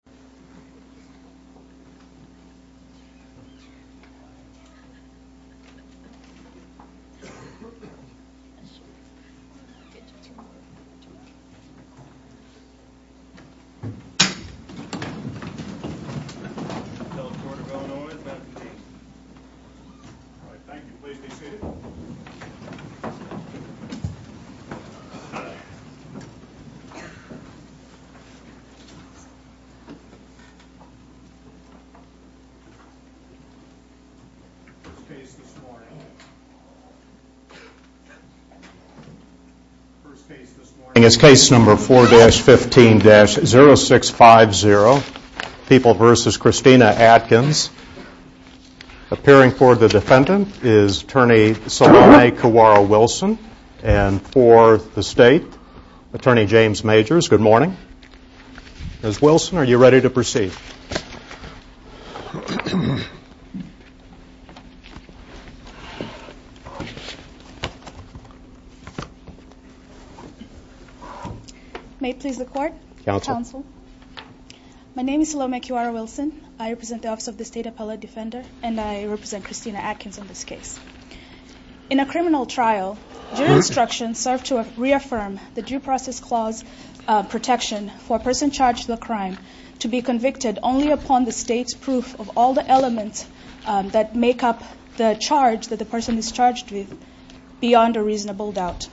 Rep Portman, CHAIRMAN, shows video to support the project at University of Illinois fingertip Staff went around and around, calling on merciless support First case this morning is case number 4-15-0650, People v. Christina Atkins. Appearing for the defendant is Attorney Solanae Kawara-Wilson, and for the state, Attorney James Majors. Good morning. Ms. Wilson, are you ready to proceed? May it please the Court, Counsel, my name is Solanae Kawara-Wilson, I represent the Office of the State Appellate Defender, and I represent Christina Atkins on this case. In a criminal trial, jury instructions serve to reaffirm the Due Process Clause protection for a person charged with a crime to be convicted only upon the state's proof of all the elements that make up the charge that the person is charged with beyond a reasonable doubt.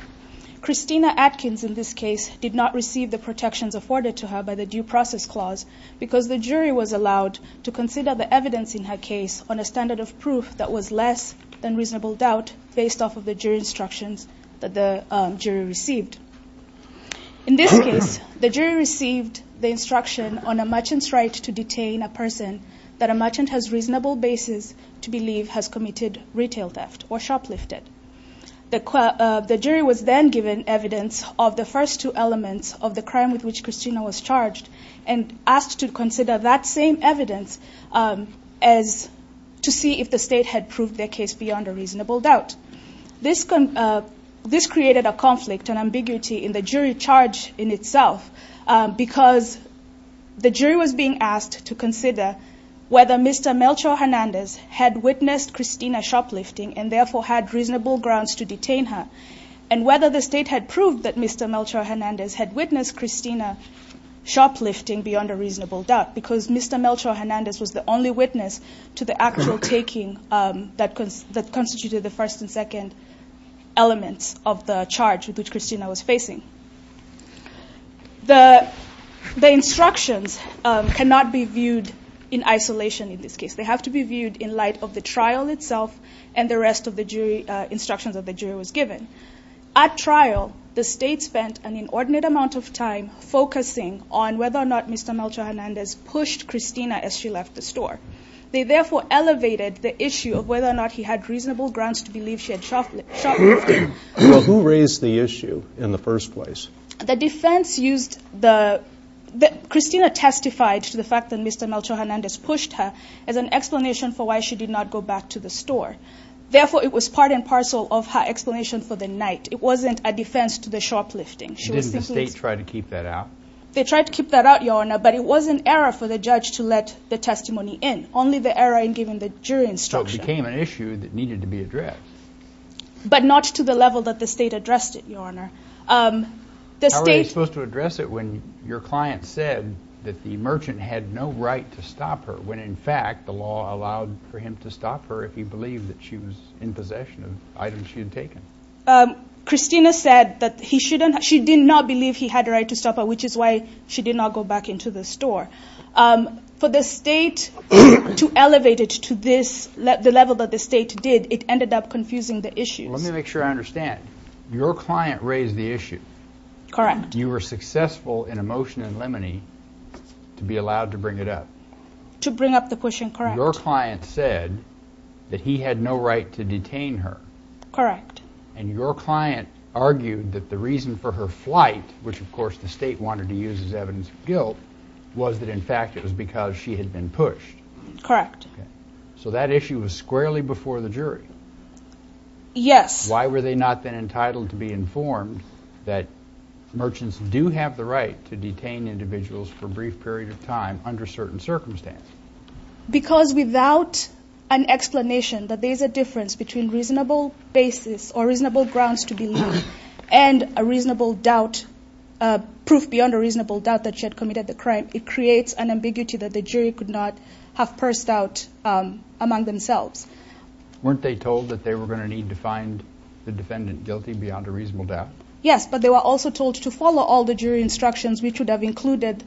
Christina Atkins in this case did not receive the protections afforded to her by the Due Process Clause because the jury was allowed to consider the evidence in her case on a standard of proof that was less than reasonable doubt based off of the jury instructions that the jury received. In this case, the jury received the instruction on a merchant's right to detain a person that a merchant has reasonable basis to believe has committed retail theft or shoplifted. The jury was then given evidence of the first two elements of the crime with which Christina was charged and asked to consider that same evidence to see if the state had proved their case beyond a reasonable doubt. This created a conflict and ambiguity in the jury charge in itself because the jury was being asked to consider whether Mr. Melchor Hernandez had witnessed Christina shoplifting and therefore had reasonable grounds to detain her, and whether the state had proved that shoplifting beyond a reasonable doubt because Mr. Melchor Hernandez was the only witness to the actual taking that constituted the first and second elements of the charge with which Christina was facing. The instructions cannot be viewed in isolation in this case. They have to be viewed in light of the trial itself and the rest of the jury instructions that the jury was given. At trial, the state spent an inordinate amount of time focusing on whether or not Mr. Melchor Hernandez pushed Christina as she left the store. They therefore elevated the issue of whether or not he had reasonable grounds to believe she had shoplifted. So who raised the issue in the first place? The defense used the, Christina testified to the fact that Mr. Melchor Hernandez pushed her as an explanation for why she did not go back to the store. Therefore it was part and parcel of her explanation for the night. It wasn't a defense to the shoplifting. Didn't the state try to keep that out? They tried to keep that out, Your Honor, but it was an error for the judge to let the testimony in. Only the error in giving the jury instructions. So it became an issue that needed to be addressed. But not to the level that the state addressed it, Your Honor. How were they supposed to address it when your client said that the merchant had no right to stop her, when in fact the law allowed for him to stop her if he believed that she was in possession of items she had taken? Christina said that he shouldn't, she did not believe he had the right to stop her, which is why she did not go back into the store. For the state to elevate it to this, the level that the state did, it ended up confusing the issue. Let me make sure I understand. Your client raised the issue. Correct. You were successful in a motion in Lemony to be allowed to bring it up. To bring up the pushing, correct. Your client said that he had no right to detain her. Correct. And your client argued that the reason for her flight, which of course the state wanted to use as evidence of guilt, was that in fact it was because she had been pushed. Correct. So that issue was squarely before the jury. Yes. Why were they not then entitled to be informed that merchants do have the right to detain individuals for a brief period of time under certain circumstances? Because without an explanation that there is a difference between reasonable basis or reasonable grounds to believe and a reasonable doubt, proof beyond a reasonable doubt that she had committed the crime, it creates an ambiguity that the jury could not have pursed out among themselves. Weren't they told that they were going to need to find the defendant guilty beyond a reasonable doubt? Yes, but they were also told to follow all the jury instructions which would have included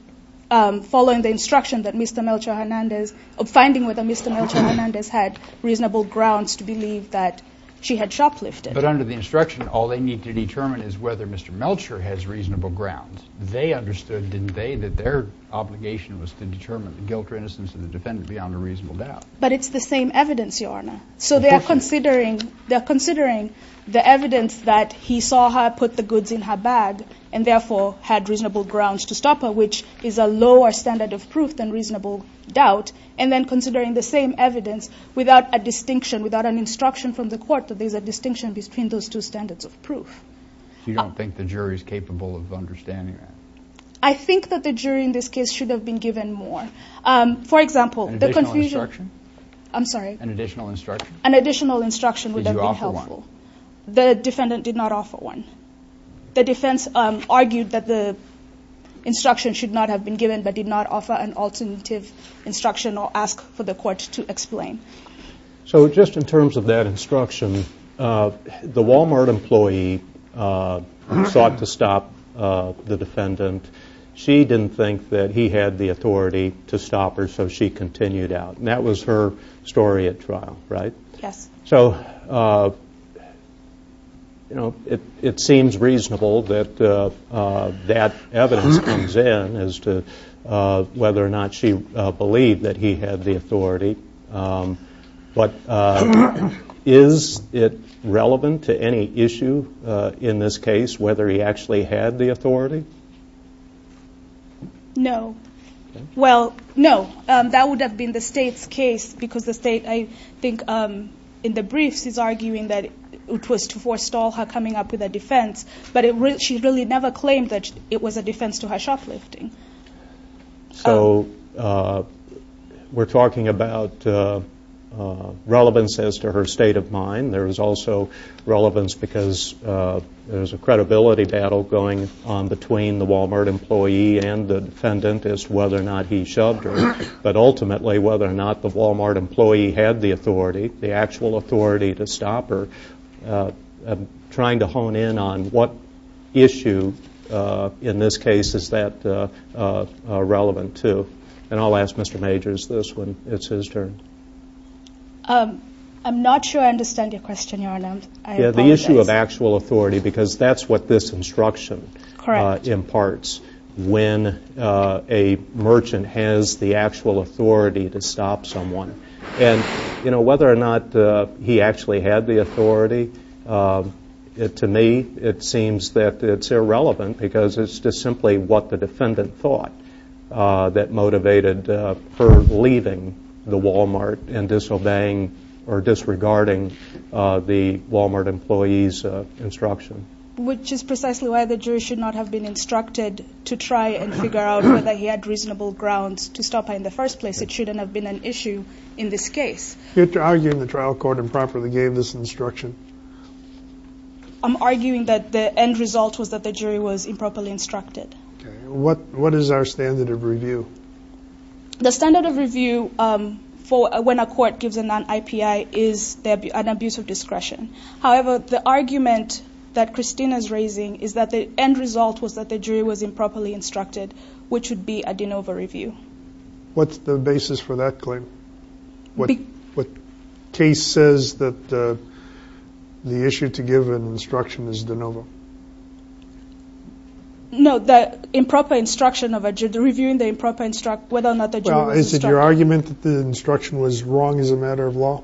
following the instruction that Mr. Melchor Hernandez, finding whether Mr. Melchor Hernandez had reasonable grounds to believe that she had shoplifted. But under the instruction, all they need to determine is whether Mr. Melchor has reasonable grounds. They understood, didn't they, that their obligation was to determine the guilt or innocence of the defendant beyond a reasonable doubt. But it's the same evidence, Your Honor. So they are considering the evidence that he saw her put the goods in her bag and therefore had reasonable grounds to stop her, which is a lower standard of proof than reasonable doubt, and then considering the same evidence without a distinction, without an instruction from the court that there's a distinction between those two standards of proof. You don't think the jury is capable of understanding that? I think that the jury in this case should have been given more. For example, the confusion... An additional instruction? I'm sorry? An additional instruction? An additional instruction would then be helpful. Did you offer one? The defendant did not offer one. The defense argued that the instruction should not have been given but did not offer an alternative instruction or ask for the court to explain. So just in terms of that instruction, the Walmart employee sought to stop the defendant. She didn't think that he had the authority to stop her, so she continued out. And that was her story at trial, right? Yes. So, you know, it seems reasonable that that evidence comes in as to whether or not she believed that he had the authority. But is it relevant to any issue in this case, whether he actually had the authority? No. Well, no, that would have been the state's case because the state, I think, in the briefs is arguing that it was to forestall her coming up with a defense, but she really never claimed that it was a defense to her shoplifting. So we're talking about relevance as to her state of mind. There is also relevance because there's a credibility battle going on between the Walmart employee and the defendant as to whether or not he shoved her. But ultimately, whether or not the Walmart employee had the authority, the actual authority to stop her, I'm trying to hone in on what issue in this case is that relevant to. And I'll ask Mr. Major's this one. It's his turn. I'm not sure I understand your question, Your Honor. I apologize. Yeah, the issue of actual authority because that's what this instruction imparts when a merchant has the actual authority to stop someone. And whether or not he actually had the authority, to me, it seems that it's irrelevant because it's just simply what the defendant thought that motivated her leaving the Walmart and disobeying or disregarding the Walmart employee's instruction. Which is precisely why the jury should not have been instructed to try and figure out whether he had reasonable grounds to stop her in the first place. It shouldn't have been an issue in this case. You're arguing the trial court improperly gave this instruction? I'm arguing that the end result was that the jury was improperly instructed. What is our standard of review? The standard of review for when a court gives a non-IPI is an abuse of discretion. However, the argument that Christina's raising is that the end result was that the jury was improperly instructed, which would be a de novo review. What's the basis for that claim? What case says that the issue to give an instruction is de novo? No, the improper instruction of a judge, reviewing whether or not the jury was instructed. Is it your argument that the instruction was wrong as a matter of law?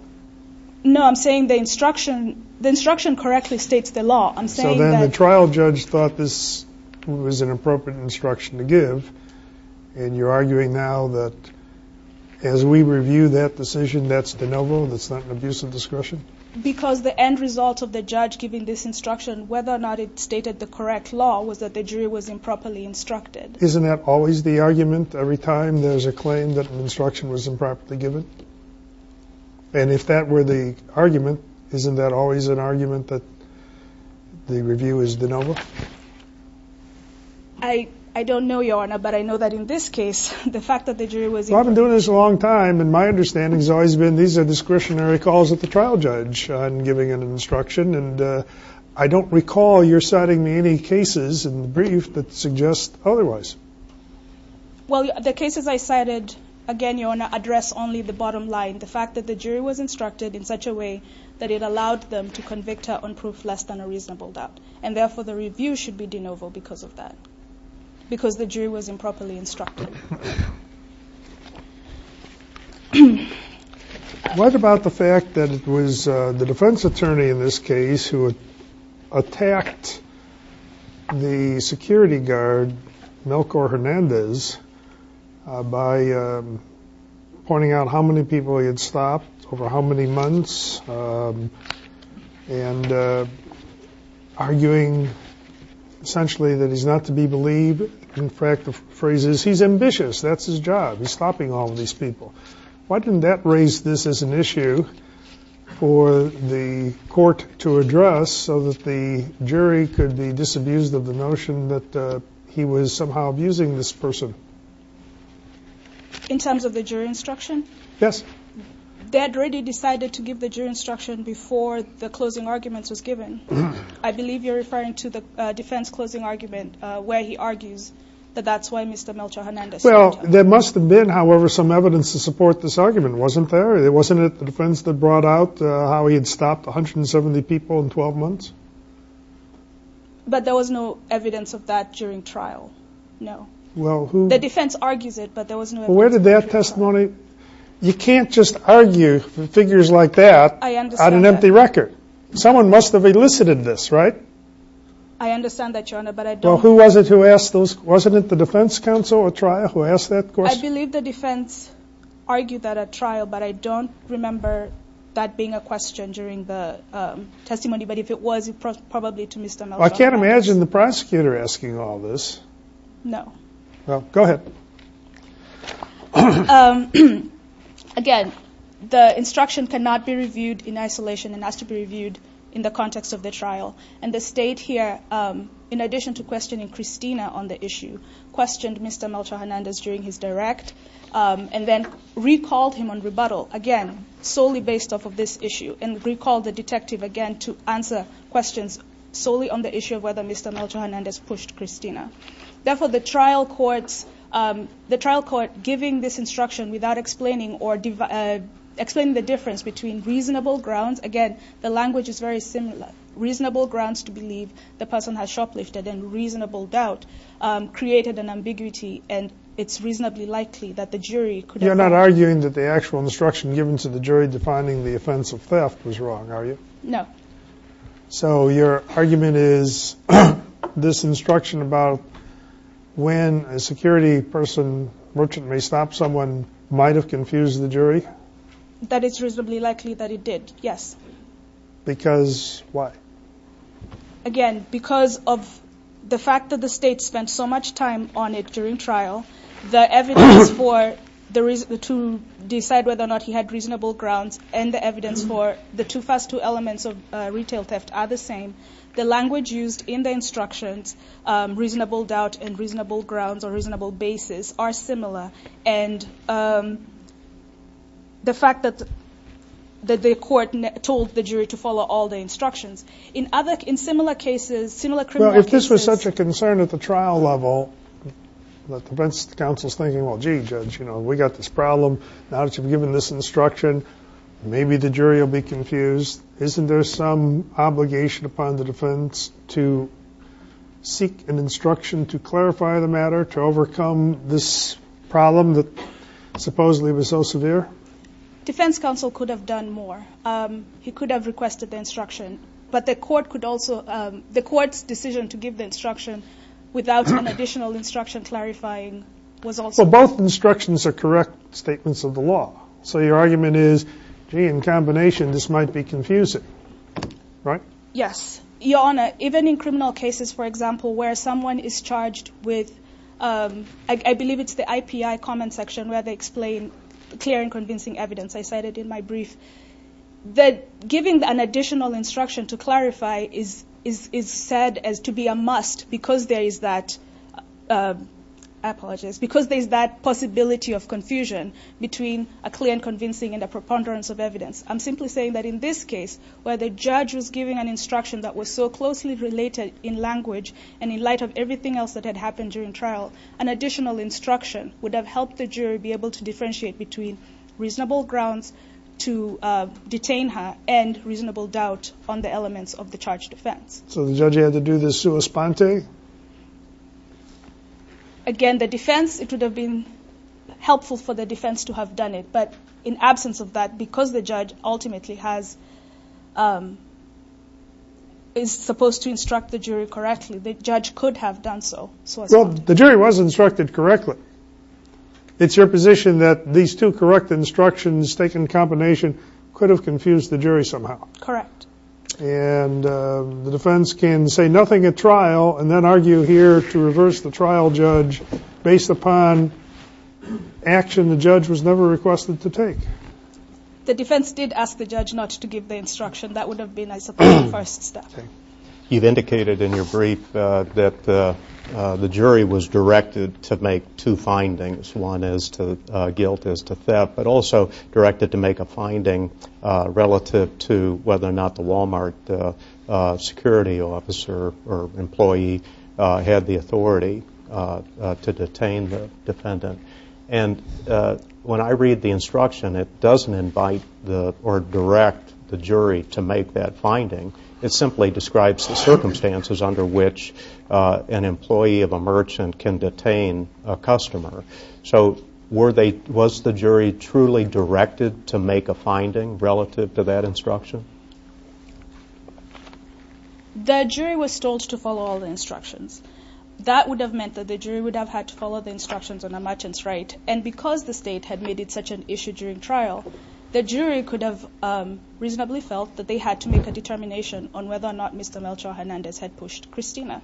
No, I'm saying the instruction correctly states the law. So then the trial judge thought this was an appropriate instruction to give. And you're arguing now that as we review that decision, that's de novo, that's not an abuse of discretion? Because the end result of the judge giving this instruction, whether or not it stated the correct law, was that the jury was improperly instructed. Isn't that always the argument every time there's a claim that an instruction was improperly given? And if that were the argument, isn't that always an argument that the review is de novo? I don't know, Your Honor, but I know that in this case, the fact that the jury was- Well, I've been doing this a long time, and my understanding has always been these are discretionary calls at the trial judge on giving an instruction. And I don't recall your citing any cases in the brief that suggest otherwise. Well, the cases I cited, again, Your Honor, address only the bottom line, the fact that the jury was instructed in such a way that it allowed them to convict her on proof less than a reasonable doubt. And therefore, the review should be de novo because of that, because the jury was improperly instructed. What about the fact that it was the defense attorney in this case who attacked the security guard, Melchor Hernandez, by pointing out how many people he had stopped over how many months, and arguing, essentially, that he's not to be believed. In fact, the phrase is, he's ambitious. That's his job. He's stopping all of these people. Why didn't that raise this as an issue for the court to address so that the jury could be disabused of the notion that he was somehow abusing this person? In terms of the jury instruction? Yes. They had already decided to give the jury instruction before the closing argument was given. I believe you're referring to the defense closing argument where he argues that that's why Mr. Melchor Hernandez. Well, there must have been, however, some evidence to support this argument, wasn't there? Wasn't it the defense that brought out how he had stopped 170 people in 12 months? But there was no evidence of that during trial. No. The defense argues it, but there was no evidence. Well, where did that testimony – you can't just argue figures like that on an empty record. Someone must have elicited this, right? I understand that, Your Honor, but I don't – Well, who was it who asked those – wasn't it the defense counsel who asked that question? I believe the defense argued that at trial, but I don't remember that being a question during the testimony. But if it was, it was probably to Mr. Melchor Hernandez. Well, I can't imagine the prosecutor asking all this. No. Well, go ahead. Again, the instruction cannot be reviewed in isolation and has to be reviewed in the context of the trial. And the State here, in addition to questioning Christina on the issue, questioned Mr. Melchor Hernandez during his direct and then recalled him on rebuttal, again, solely based off of this issue, and recalled the detective again to answer questions solely on the issue of whether Mr. Melchor Hernandez pushed Christina. Therefore, the trial court giving this instruction without explaining the difference between reasonable grounds – the language is very similar – reasonable grounds to believe the person has shoplifted and reasonable doubt created an ambiguity, and it's reasonably likely that the jury could have – You're not arguing that the actual instruction given to the jury defining the offense of theft was wrong, are you? No. So your argument is this instruction about when a security person, merchant may stop someone, might have confused the jury? That it's reasonably likely that it did, yes. Because why? Again, because of the fact that the State spent so much time on it during trial, the evidence to decide whether or not he had reasonable grounds and the evidence for the first two elements of retail theft are the same. The language used in the instructions, reasonable doubt and reasonable grounds or reasonable basis, are similar. And the fact that the court told the jury to follow all the instructions. In similar cases, similar criminal cases – Well, if this was such a concern at the trial level, the defense counsel is thinking, well, gee, judge, we got this problem, now that you've given this instruction, maybe the jury will be confused. Isn't there some obligation upon the defense to seek an instruction to clarify the matter, to overcome this problem that supposedly was so severe? Defense counsel could have done more. He could have requested the instruction. But the court could also – the court's decision to give the instruction without an additional instruction clarifying was also – Well, both instructions are correct statements of the law. So your argument is, gee, in combination, this might be confusing, right? Yes. Your Honor, even in criminal cases, for example, where someone is charged with – I believe it's the IPI comment section where they explain clear and convincing evidence. I cited it in my brief. That giving an additional instruction to clarify is said as to be a must because there is that – clear and convincing and a preponderance of evidence. I'm simply saying that in this case, where the judge was giving an instruction that was so closely related in language and in light of everything else that had happened during trial, an additional instruction would have helped the jury be able to differentiate between reasonable grounds to detain her and reasonable doubt on the elements of the charge defense. So the judge had to do the sua sponte? Again, the defense – it would have been helpful for the defense to have done it. But in absence of that, because the judge ultimately has – is supposed to instruct the jury correctly, the judge could have done so, sua sponte. Well, the jury was instructed correctly. It's your position that these two correct instructions taken in combination could have confused the jury somehow. Correct. And the defense can say nothing at trial and then argue here to reverse the trial judge based upon action the judge was never requested to take. The defense did ask the judge not to give the instruction. That would have been, I suppose, the first step. You've indicated in your brief that the jury was directed to make two findings, one is to – guilt is to theft, but also directed to make a finding relative to whether or not the Walmart security officer or employee had the authority to detain the defendant. And when I read the instruction, it doesn't invite or direct the jury to make that finding. It simply describes the circumstances under which an employee of a merchant can detain a customer. So were they – was the jury truly directed to make a finding relative to that instruction? The jury was told to follow all the instructions. That would have meant that the jury would have had to follow the instructions on a merchant's right. And because the state had made it such an issue during trial, the jury could have reasonably felt that they had to make a determination on whether or not Mr. Melchor Hernandez had pushed Christina.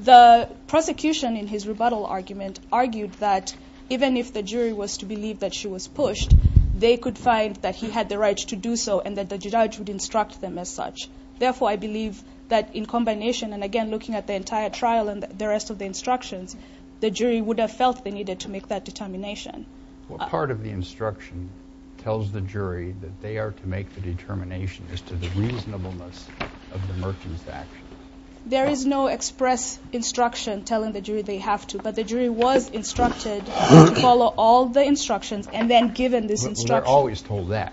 The prosecution in his rebuttal argument argued that even if the jury was to believe that she was pushed, they could find that he had the right to do so and that the judge would instruct them as such. Therefore, I believe that in combination, and again looking at the entire trial and the rest of the instructions, the jury would have felt they needed to make that determination. What part of the instruction tells the jury that they are to make the determination as to the reasonableness of the merchant's actions? There is no express instruction telling the jury they have to, but the jury was instructed to follow all the instructions and then given this instruction. Well, they're always told that.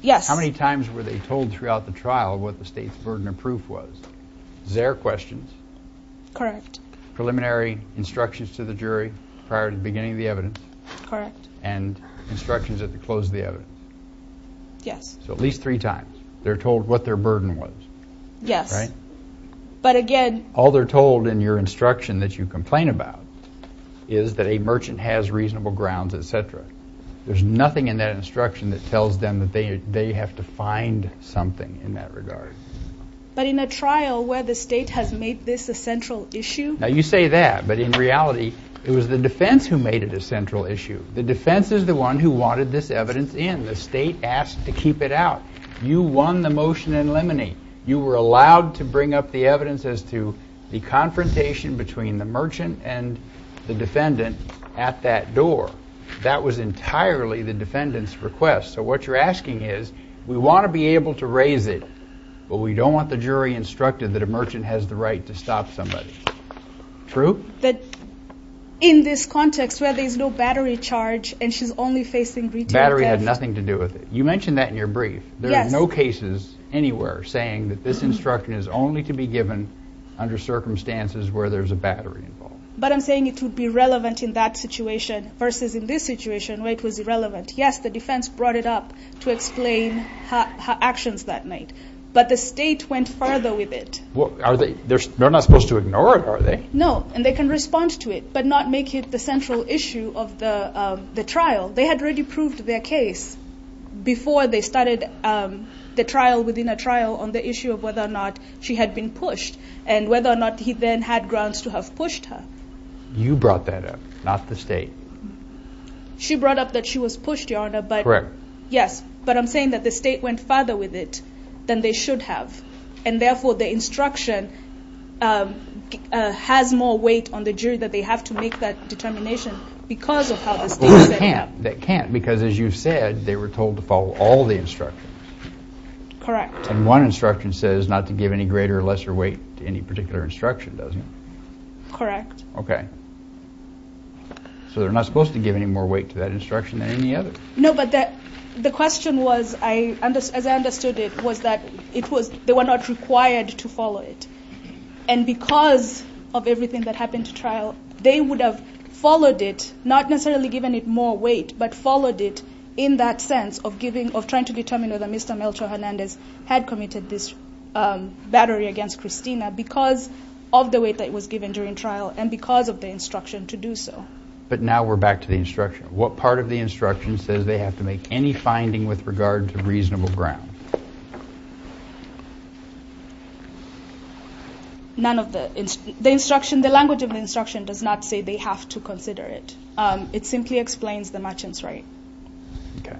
Yes. How many times were they told throughout the trial what the state's burden of proof was? Is there a question? Correct. Preliminary instructions to the jury prior to the beginning of the evidence? Correct. And instructions at the close of the evidence? Yes. So at least three times they're told what their burden was. Yes. Right? But again... All they're told in your instruction that you complain about is that a merchant has reasonable grounds, etc. There's nothing in that instruction that tells them that they have to find something in that regard. But in a trial where the state has made this a central issue? Now, you say that, but in reality it was the defense who made it a central issue. The defense is the one who wanted this evidence in. The state asked to keep it out. You won the motion in limine. You were allowed to bring up the evidence as to the confrontation between the merchant and the defendant at that door. That was entirely the defendant's request. So what you're asking is, we want to be able to raise it, but we don't want the jury instructed that a merchant has the right to stop somebody. True? That in this context where there's no battery charge and she's only facing retail theft... Battery had nothing to do with it. You mentioned that in your brief. Yes. There are no cases anywhere saying that this instruction is only to be given under circumstances where there's a battery involved. But I'm saying it would be relevant in that situation versus in this situation where it was irrelevant. Yes, the defense brought it up to explain her actions that night, but the state went further with it. They're not supposed to ignore it, are they? No, and they can respond to it, but not make it the central issue of the trial. They had already proved their case before they started the trial within a trial on the issue of whether or not she had been pushed and whether or not he then had grounds to have pushed her. You brought that up, not the state. She brought up that she was pushed, Your Honor. Correct. Yes, but I'm saying that the state went further with it than they should have, and therefore the instruction has more weight on the jury that they have to make that determination because of how the state set it up. That can't, because as you said, they were told to follow all the instructions. Correct. And one instruction says not to give any greater or lesser weight to any particular instruction, doesn't it? Correct. Okay. So they're not supposed to give any more weight to that instruction than any other? No, but the question was, as I understood it, was that they were not required to follow it. And because of everything that happened at trial, they would have followed it, not necessarily given it more weight, but followed it in that sense of trying to determine whether Mr. Melchor Hernandez had committed this battery against Christina because of the weight that was given during trial and because of the instruction to do so. But now we're back to the instruction. What part of the instruction says they have to make any finding with regard to reasonable ground? None of the instruction. The language of the instruction does not say they have to consider it. It simply explains the merchant's right. Okay.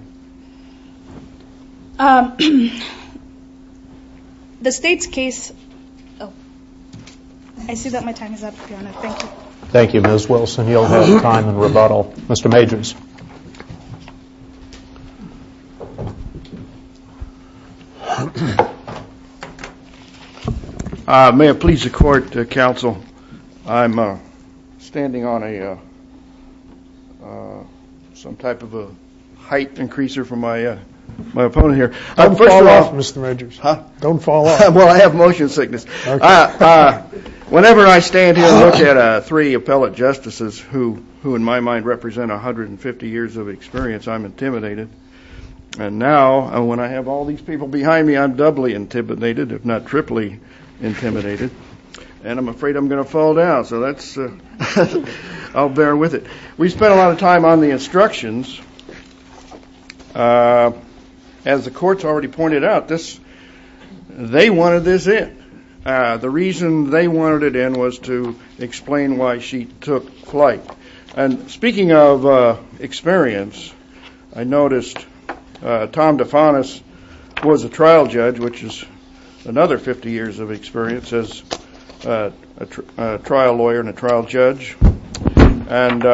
The State's case – oh, I see that my time is up, Your Honor. Thank you. Thank you, Ms. Wilson. You'll have time in rebuttal. Mr. Majors. May it please the Court, Counsel, I'm standing on some type of a height-increaser for my opponent here. Don't fall off, Mr. Majors. Huh? Don't fall off. Well, I have motion sickness. Whenever I stand here and look at three appellate justices who, in my mind, represent 150 years of experience, I'm intimidated. And now, when I have all these people behind me, I'm doubly intimidated, if not triply intimidated. And I'm afraid I'm going to fall down, so that's – I'll bear with it. We spent a lot of time on the instructions. As the courts already pointed out, this – they wanted this in. The reason they wanted it in was to explain why she took flight. And speaking of experience, I noticed Tom DeFanis was a trial judge, which is another 50 years of experience as a trial lawyer and a trial judge. And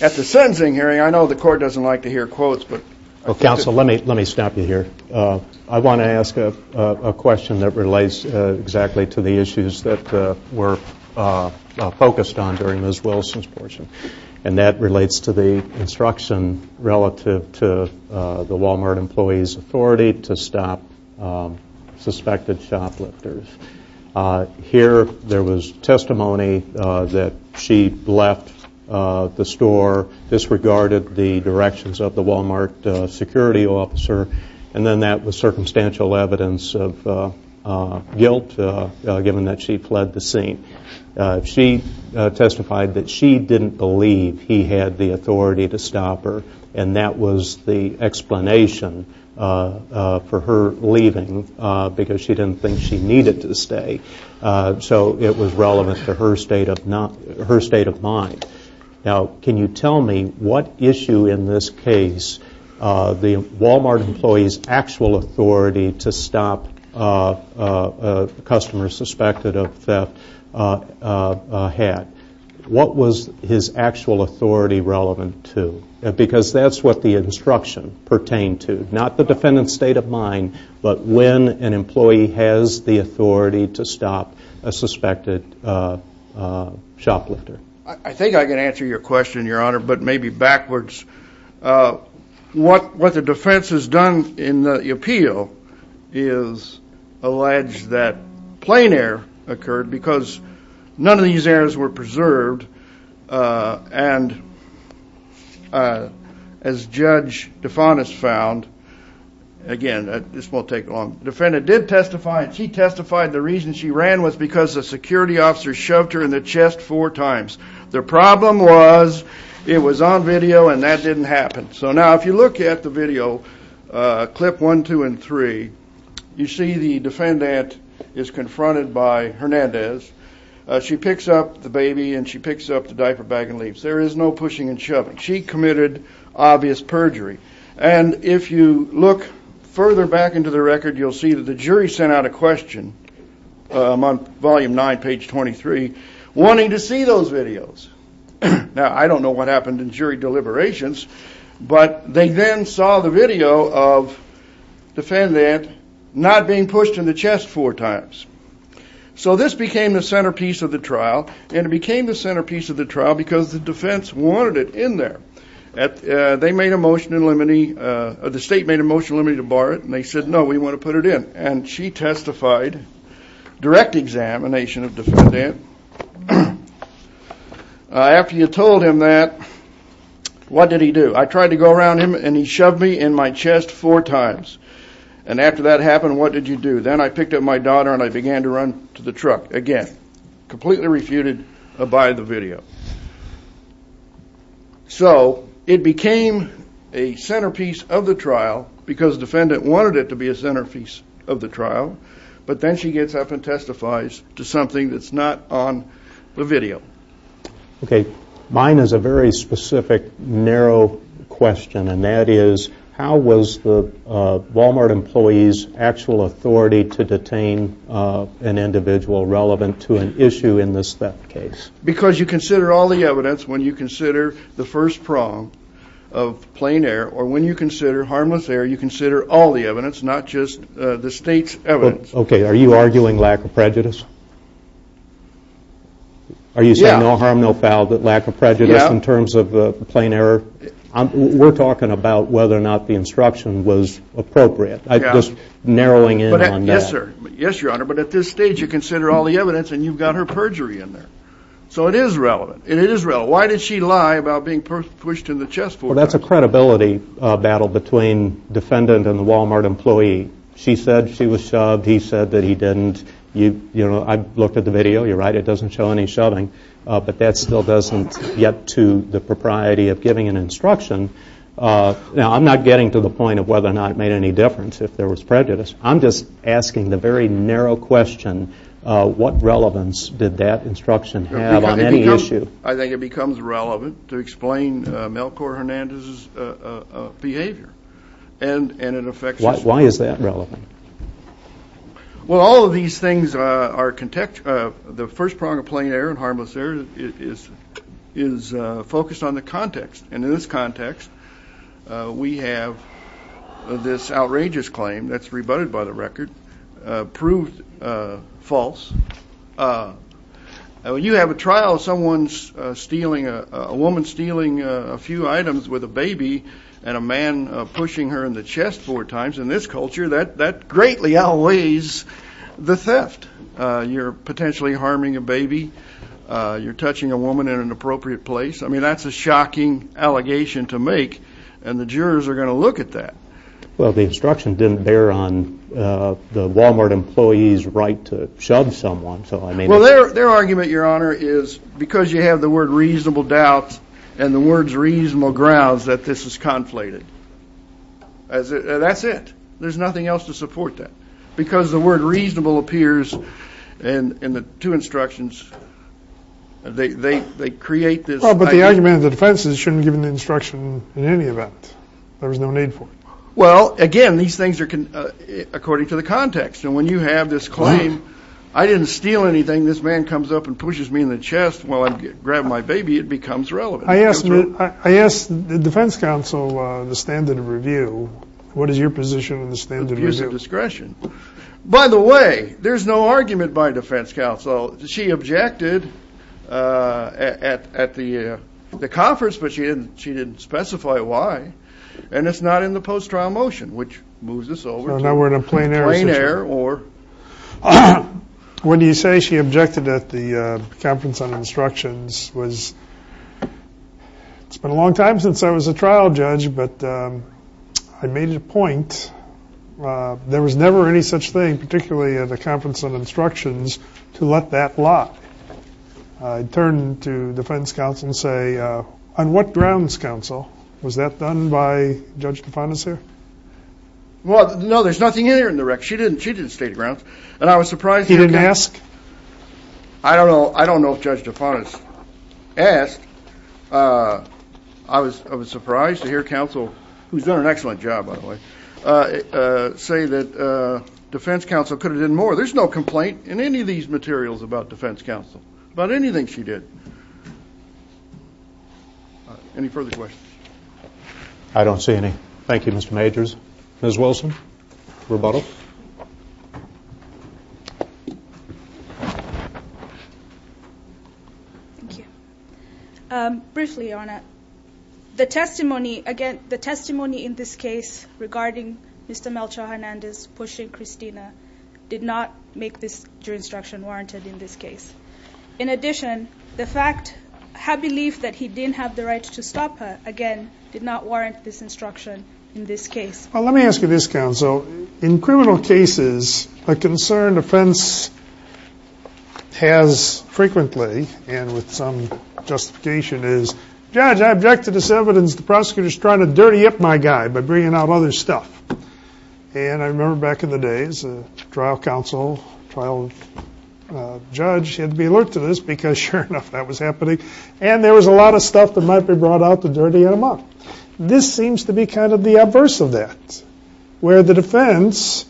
at the sentencing hearing, I know the Court doesn't like to hear quotes, but – Well, Counsel, let me stop you here. I want to ask a question that relates exactly to the issues that were focused on during Ms. Wilson's portion. And that relates to the instruction relative to the Walmart employee's authority to stop suspected shoplifters. Here, there was testimony that she left the store, disregarded the directions of the Walmart security officer, and then that was circumstantial evidence of guilt, given that she fled the scene. She testified that she didn't believe he had the authority to stop her, and that was the explanation for her leaving, because she didn't think she needed to stay. So it was relevant to her state of mind. Now, can you tell me what issue in this case the Walmart employee's actual authority to stop a customer suspected of theft had? What was his actual authority relevant to? Because that's what the instruction pertained to, not the defendant's state of mind, but when an employee has the authority to stop a suspected shoplifter. I think I can answer your question, Your Honor, but maybe backwards. What the defense has done in the appeal is allege that plain error occurred because none of these errors were preserved. And as Judge DeFantis found, again, this won't take long, the defendant did testify, and she testified the reason she ran was because the security officer shoved her in the chest four times. The problem was it was on video and that didn't happen. So now if you look at the video, clip one, two, and three, you see the defendant is confronted by Hernandez. She picks up the baby and she picks up the diaper bag and leaves. There is no pushing and shoving. She committed obvious perjury. And if you look further back into the record, you'll see that the jury sent out a question on volume nine, page 23, wanting to see those videos. Now, I don't know what happened in jury deliberations, but they then saw the video of the defendant not being pushed in the chest four times. So this became the centerpiece of the trial, and it became the centerpiece of the trial because the defense wanted it in there. They made a motion in limine, the state made a motion in limine to bar it, and they said, no, we want to put it in. And she testified, direct examination of defendant. After you told him that, what did he do? I tried to go around him and he shoved me in my chest four times. And after that happened, what did you do? Then I picked up my daughter and I began to run to the truck, again, completely refuted by the video. So it became a centerpiece of the trial because the defendant wanted it to be a centerpiece of the trial. But then she gets up and testifies to something that's not on the video. Okay. Mine is a very specific, narrow question, and that is, how was the Walmart employee's actual authority to detain an individual relevant to an issue in this theft case? Because you consider all the evidence when you consider the first prong of plain error, or when you consider harmless error, you consider all the evidence, not just the state's evidence. Okay. Are you arguing lack of prejudice? Are you saying no harm, no foul, but lack of prejudice in terms of plain error? We're talking about whether or not the instruction was appropriate. I'm just narrowing in on that. Yes, sir. Yes, Your Honor, but at this stage you consider all the evidence and you've got her perjury in there. So it is relevant, and it is relevant. Why did she lie about being pushed in the chest four times? Well, that's a credibility battle between defendant and the Walmart employee. She said she was shoved. He said that he didn't. I looked at the video. You're right. It doesn't show any shoving, but that still doesn't get to the propriety of giving an instruction. Now, I'm not getting to the point of whether or not it made any difference if there was prejudice. I'm just asking the very narrow question, what relevance did that instruction have on any issue? I think it becomes relevant to explain Melchor Hernandez's behavior, and it affects us. Why is that relevant? Well, all of these things are contextual. The first prong of plain error and harmless error is focused on the context. And in this context, we have this outrageous claim that's rebutted by the record, proved false. When you have a trial of a woman stealing a few items with a baby and a man pushing her in the chest four times, in this culture that greatly outweighs the theft. You're potentially harming a baby. You're touching a woman in an appropriate place. I mean, that's a shocking allegation to make, and the jurors are going to look at that. Well, the instruction didn't bear on the Walmart employee's right to shove someone. Well, their argument, Your Honor, is because you have the word reasonable doubt and the words reasonable grounds that this is conflated. That's it. There's nothing else to support that. Because the word reasonable appears in the two instructions. They create this idea. Well, but the argument of the defense is it shouldn't have been given the instruction in any event. There was no need for it. Well, again, these things are according to the context. And when you have this claim, I didn't steal anything. This man comes up and pushes me in the chest while I grab my baby, it becomes relevant. I asked the defense counsel the standard of review. What is your position on the standard of review? By the way, there's no argument by defense counsel. She objected at the conference, but she didn't specify why. And it's not in the post-trial motion, which moves us over to plain error. When you say she objected at the conference on instructions, it's been a long time since I was a trial judge, but I made it a point there was never any such thing, particularly at a conference on instructions, to let that lock. I turned to defense counsel and say, on what grounds, counsel? Was that done by Judge DeFonis here? Well, no, there's nothing in there in the rec. She didn't state a grounds. And I was surprised. He didn't ask? I don't know if Judge DeFonis asked. I was surprised to hear counsel, who's done an excellent job, by the way, say that defense counsel could have done more. There's no complaint in any of these materials about defense counsel, about anything she did. Any further questions? I don't see any. Thank you, Mr. Majors. Ms. Wilson, rebuttal. Thank you. Briefly, Your Honor, the testimony, again, the testimony in this case regarding Mr. Melchor Hernandez pushing Christina did not make this instruction warranted in this case. In addition, the fact, her belief that he didn't have the right to stop her, again, did not warrant this instruction in this case. Well, let me ask you this, counsel. In criminal cases, a concern defense has frequently, and with some justification, is, Judge, I object to this evidence. The prosecutor's trying to dirty up my guy by bringing out other stuff. And I remember back in the days, trial counsel, trial judge, had to be alert to this because, sure enough, that was happening. And there was a lot of stuff that might be brought out to dirty him up. This seems to be kind of the adverse of that, where the defense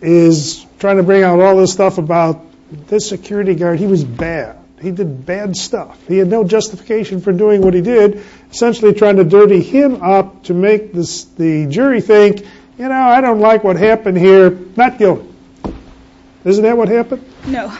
is trying to bring out all this stuff about this security guard. He was bad. He did bad stuff. He had no justification for doing what he did, essentially trying to dirty him up to make the jury think, you know, I don't like what happened here. Not guilty. Isn't that what happened? No.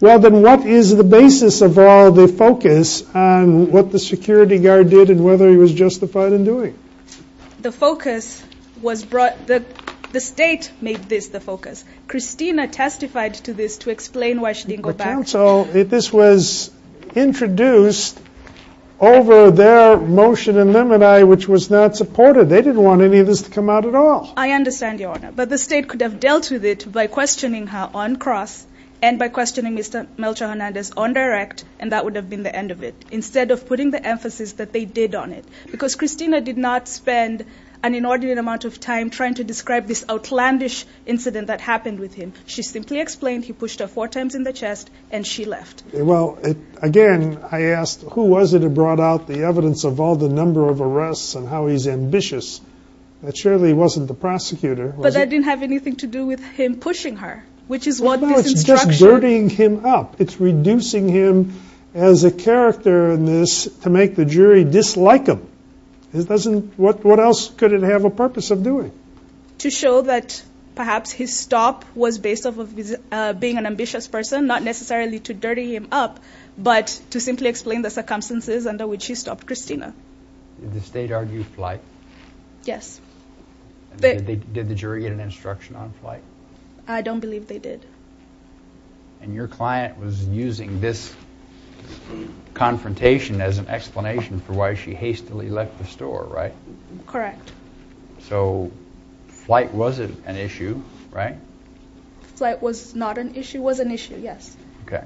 Well, then what is the basis of all the focus on what the security guard did and whether he was justified in doing it? The focus was brought, the state made this the focus. Christina testified to this to explain why she didn't go back. But, counsel, this was introduced over their motion in limini, which was not supported. They didn't want any of this to come out at all. I understand, Your Honor. But the state could have dealt with it by questioning her on cross and by questioning Mr. Melchor Hernandez on direct, and that would have been the end of it. Instead of putting the emphasis that they did on it. Because Christina did not spend an inordinate amount of time trying to describe this outlandish incident that happened with him. She simply explained he pushed her four times in the chest and she left. Well, again, I asked, who was it that brought out the evidence of all the number of arrests and how he's ambitious? It surely wasn't the prosecutor. But that didn't have anything to do with him pushing her, which is what this instruction. No, it's just dirtying him up. It's reducing him as a character in this to make the jury dislike him. What else could it have a purpose of doing? To show that perhaps his stop was based off of being an ambitious person, not necessarily to dirty him up, but to simply explain the circumstances under which he stopped Christina. Did the state argue flight? Yes. Did the jury get an instruction on flight? I don't believe they did. And your client was using this confrontation as an explanation for why she hastily left the store, right? Correct. So flight was an issue, right? Flight was not an issue, was an issue, yes. Okay.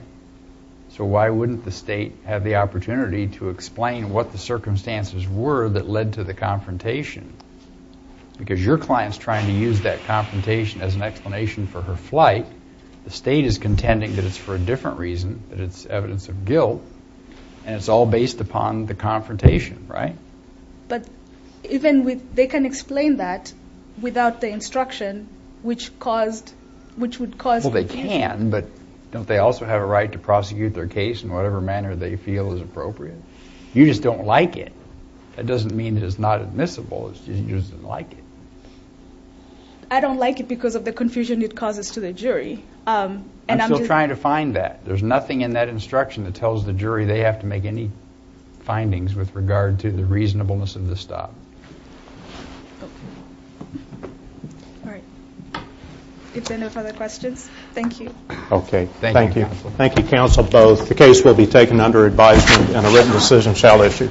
So why wouldn't the state have the opportunity to explain what the circumstances were that led to the confrontation? Because your client's trying to use that confrontation as an explanation for her flight. The state is contending that it's for a different reason, that it's evidence of guilt, and it's all based upon the confrontation, right? But even with they can explain that without the instruction, which would cause confusion. Well, they can, but don't they also have a right to prosecute their case in whatever manner they feel is appropriate? You just don't like it. That doesn't mean that it's not admissible. You just don't like it. I don't like it because of the confusion it causes to the jury. I'm still trying to find that. There's nothing in that instruction that tells the jury they have to make any findings with regard to the reasonableness of the stop. Okay. All right. If there are no further questions, thank you. Okay. Thank you, counsel. Thank you, counsel, both. The case will be taken under advisement, and a written decision shall issue. Thank you.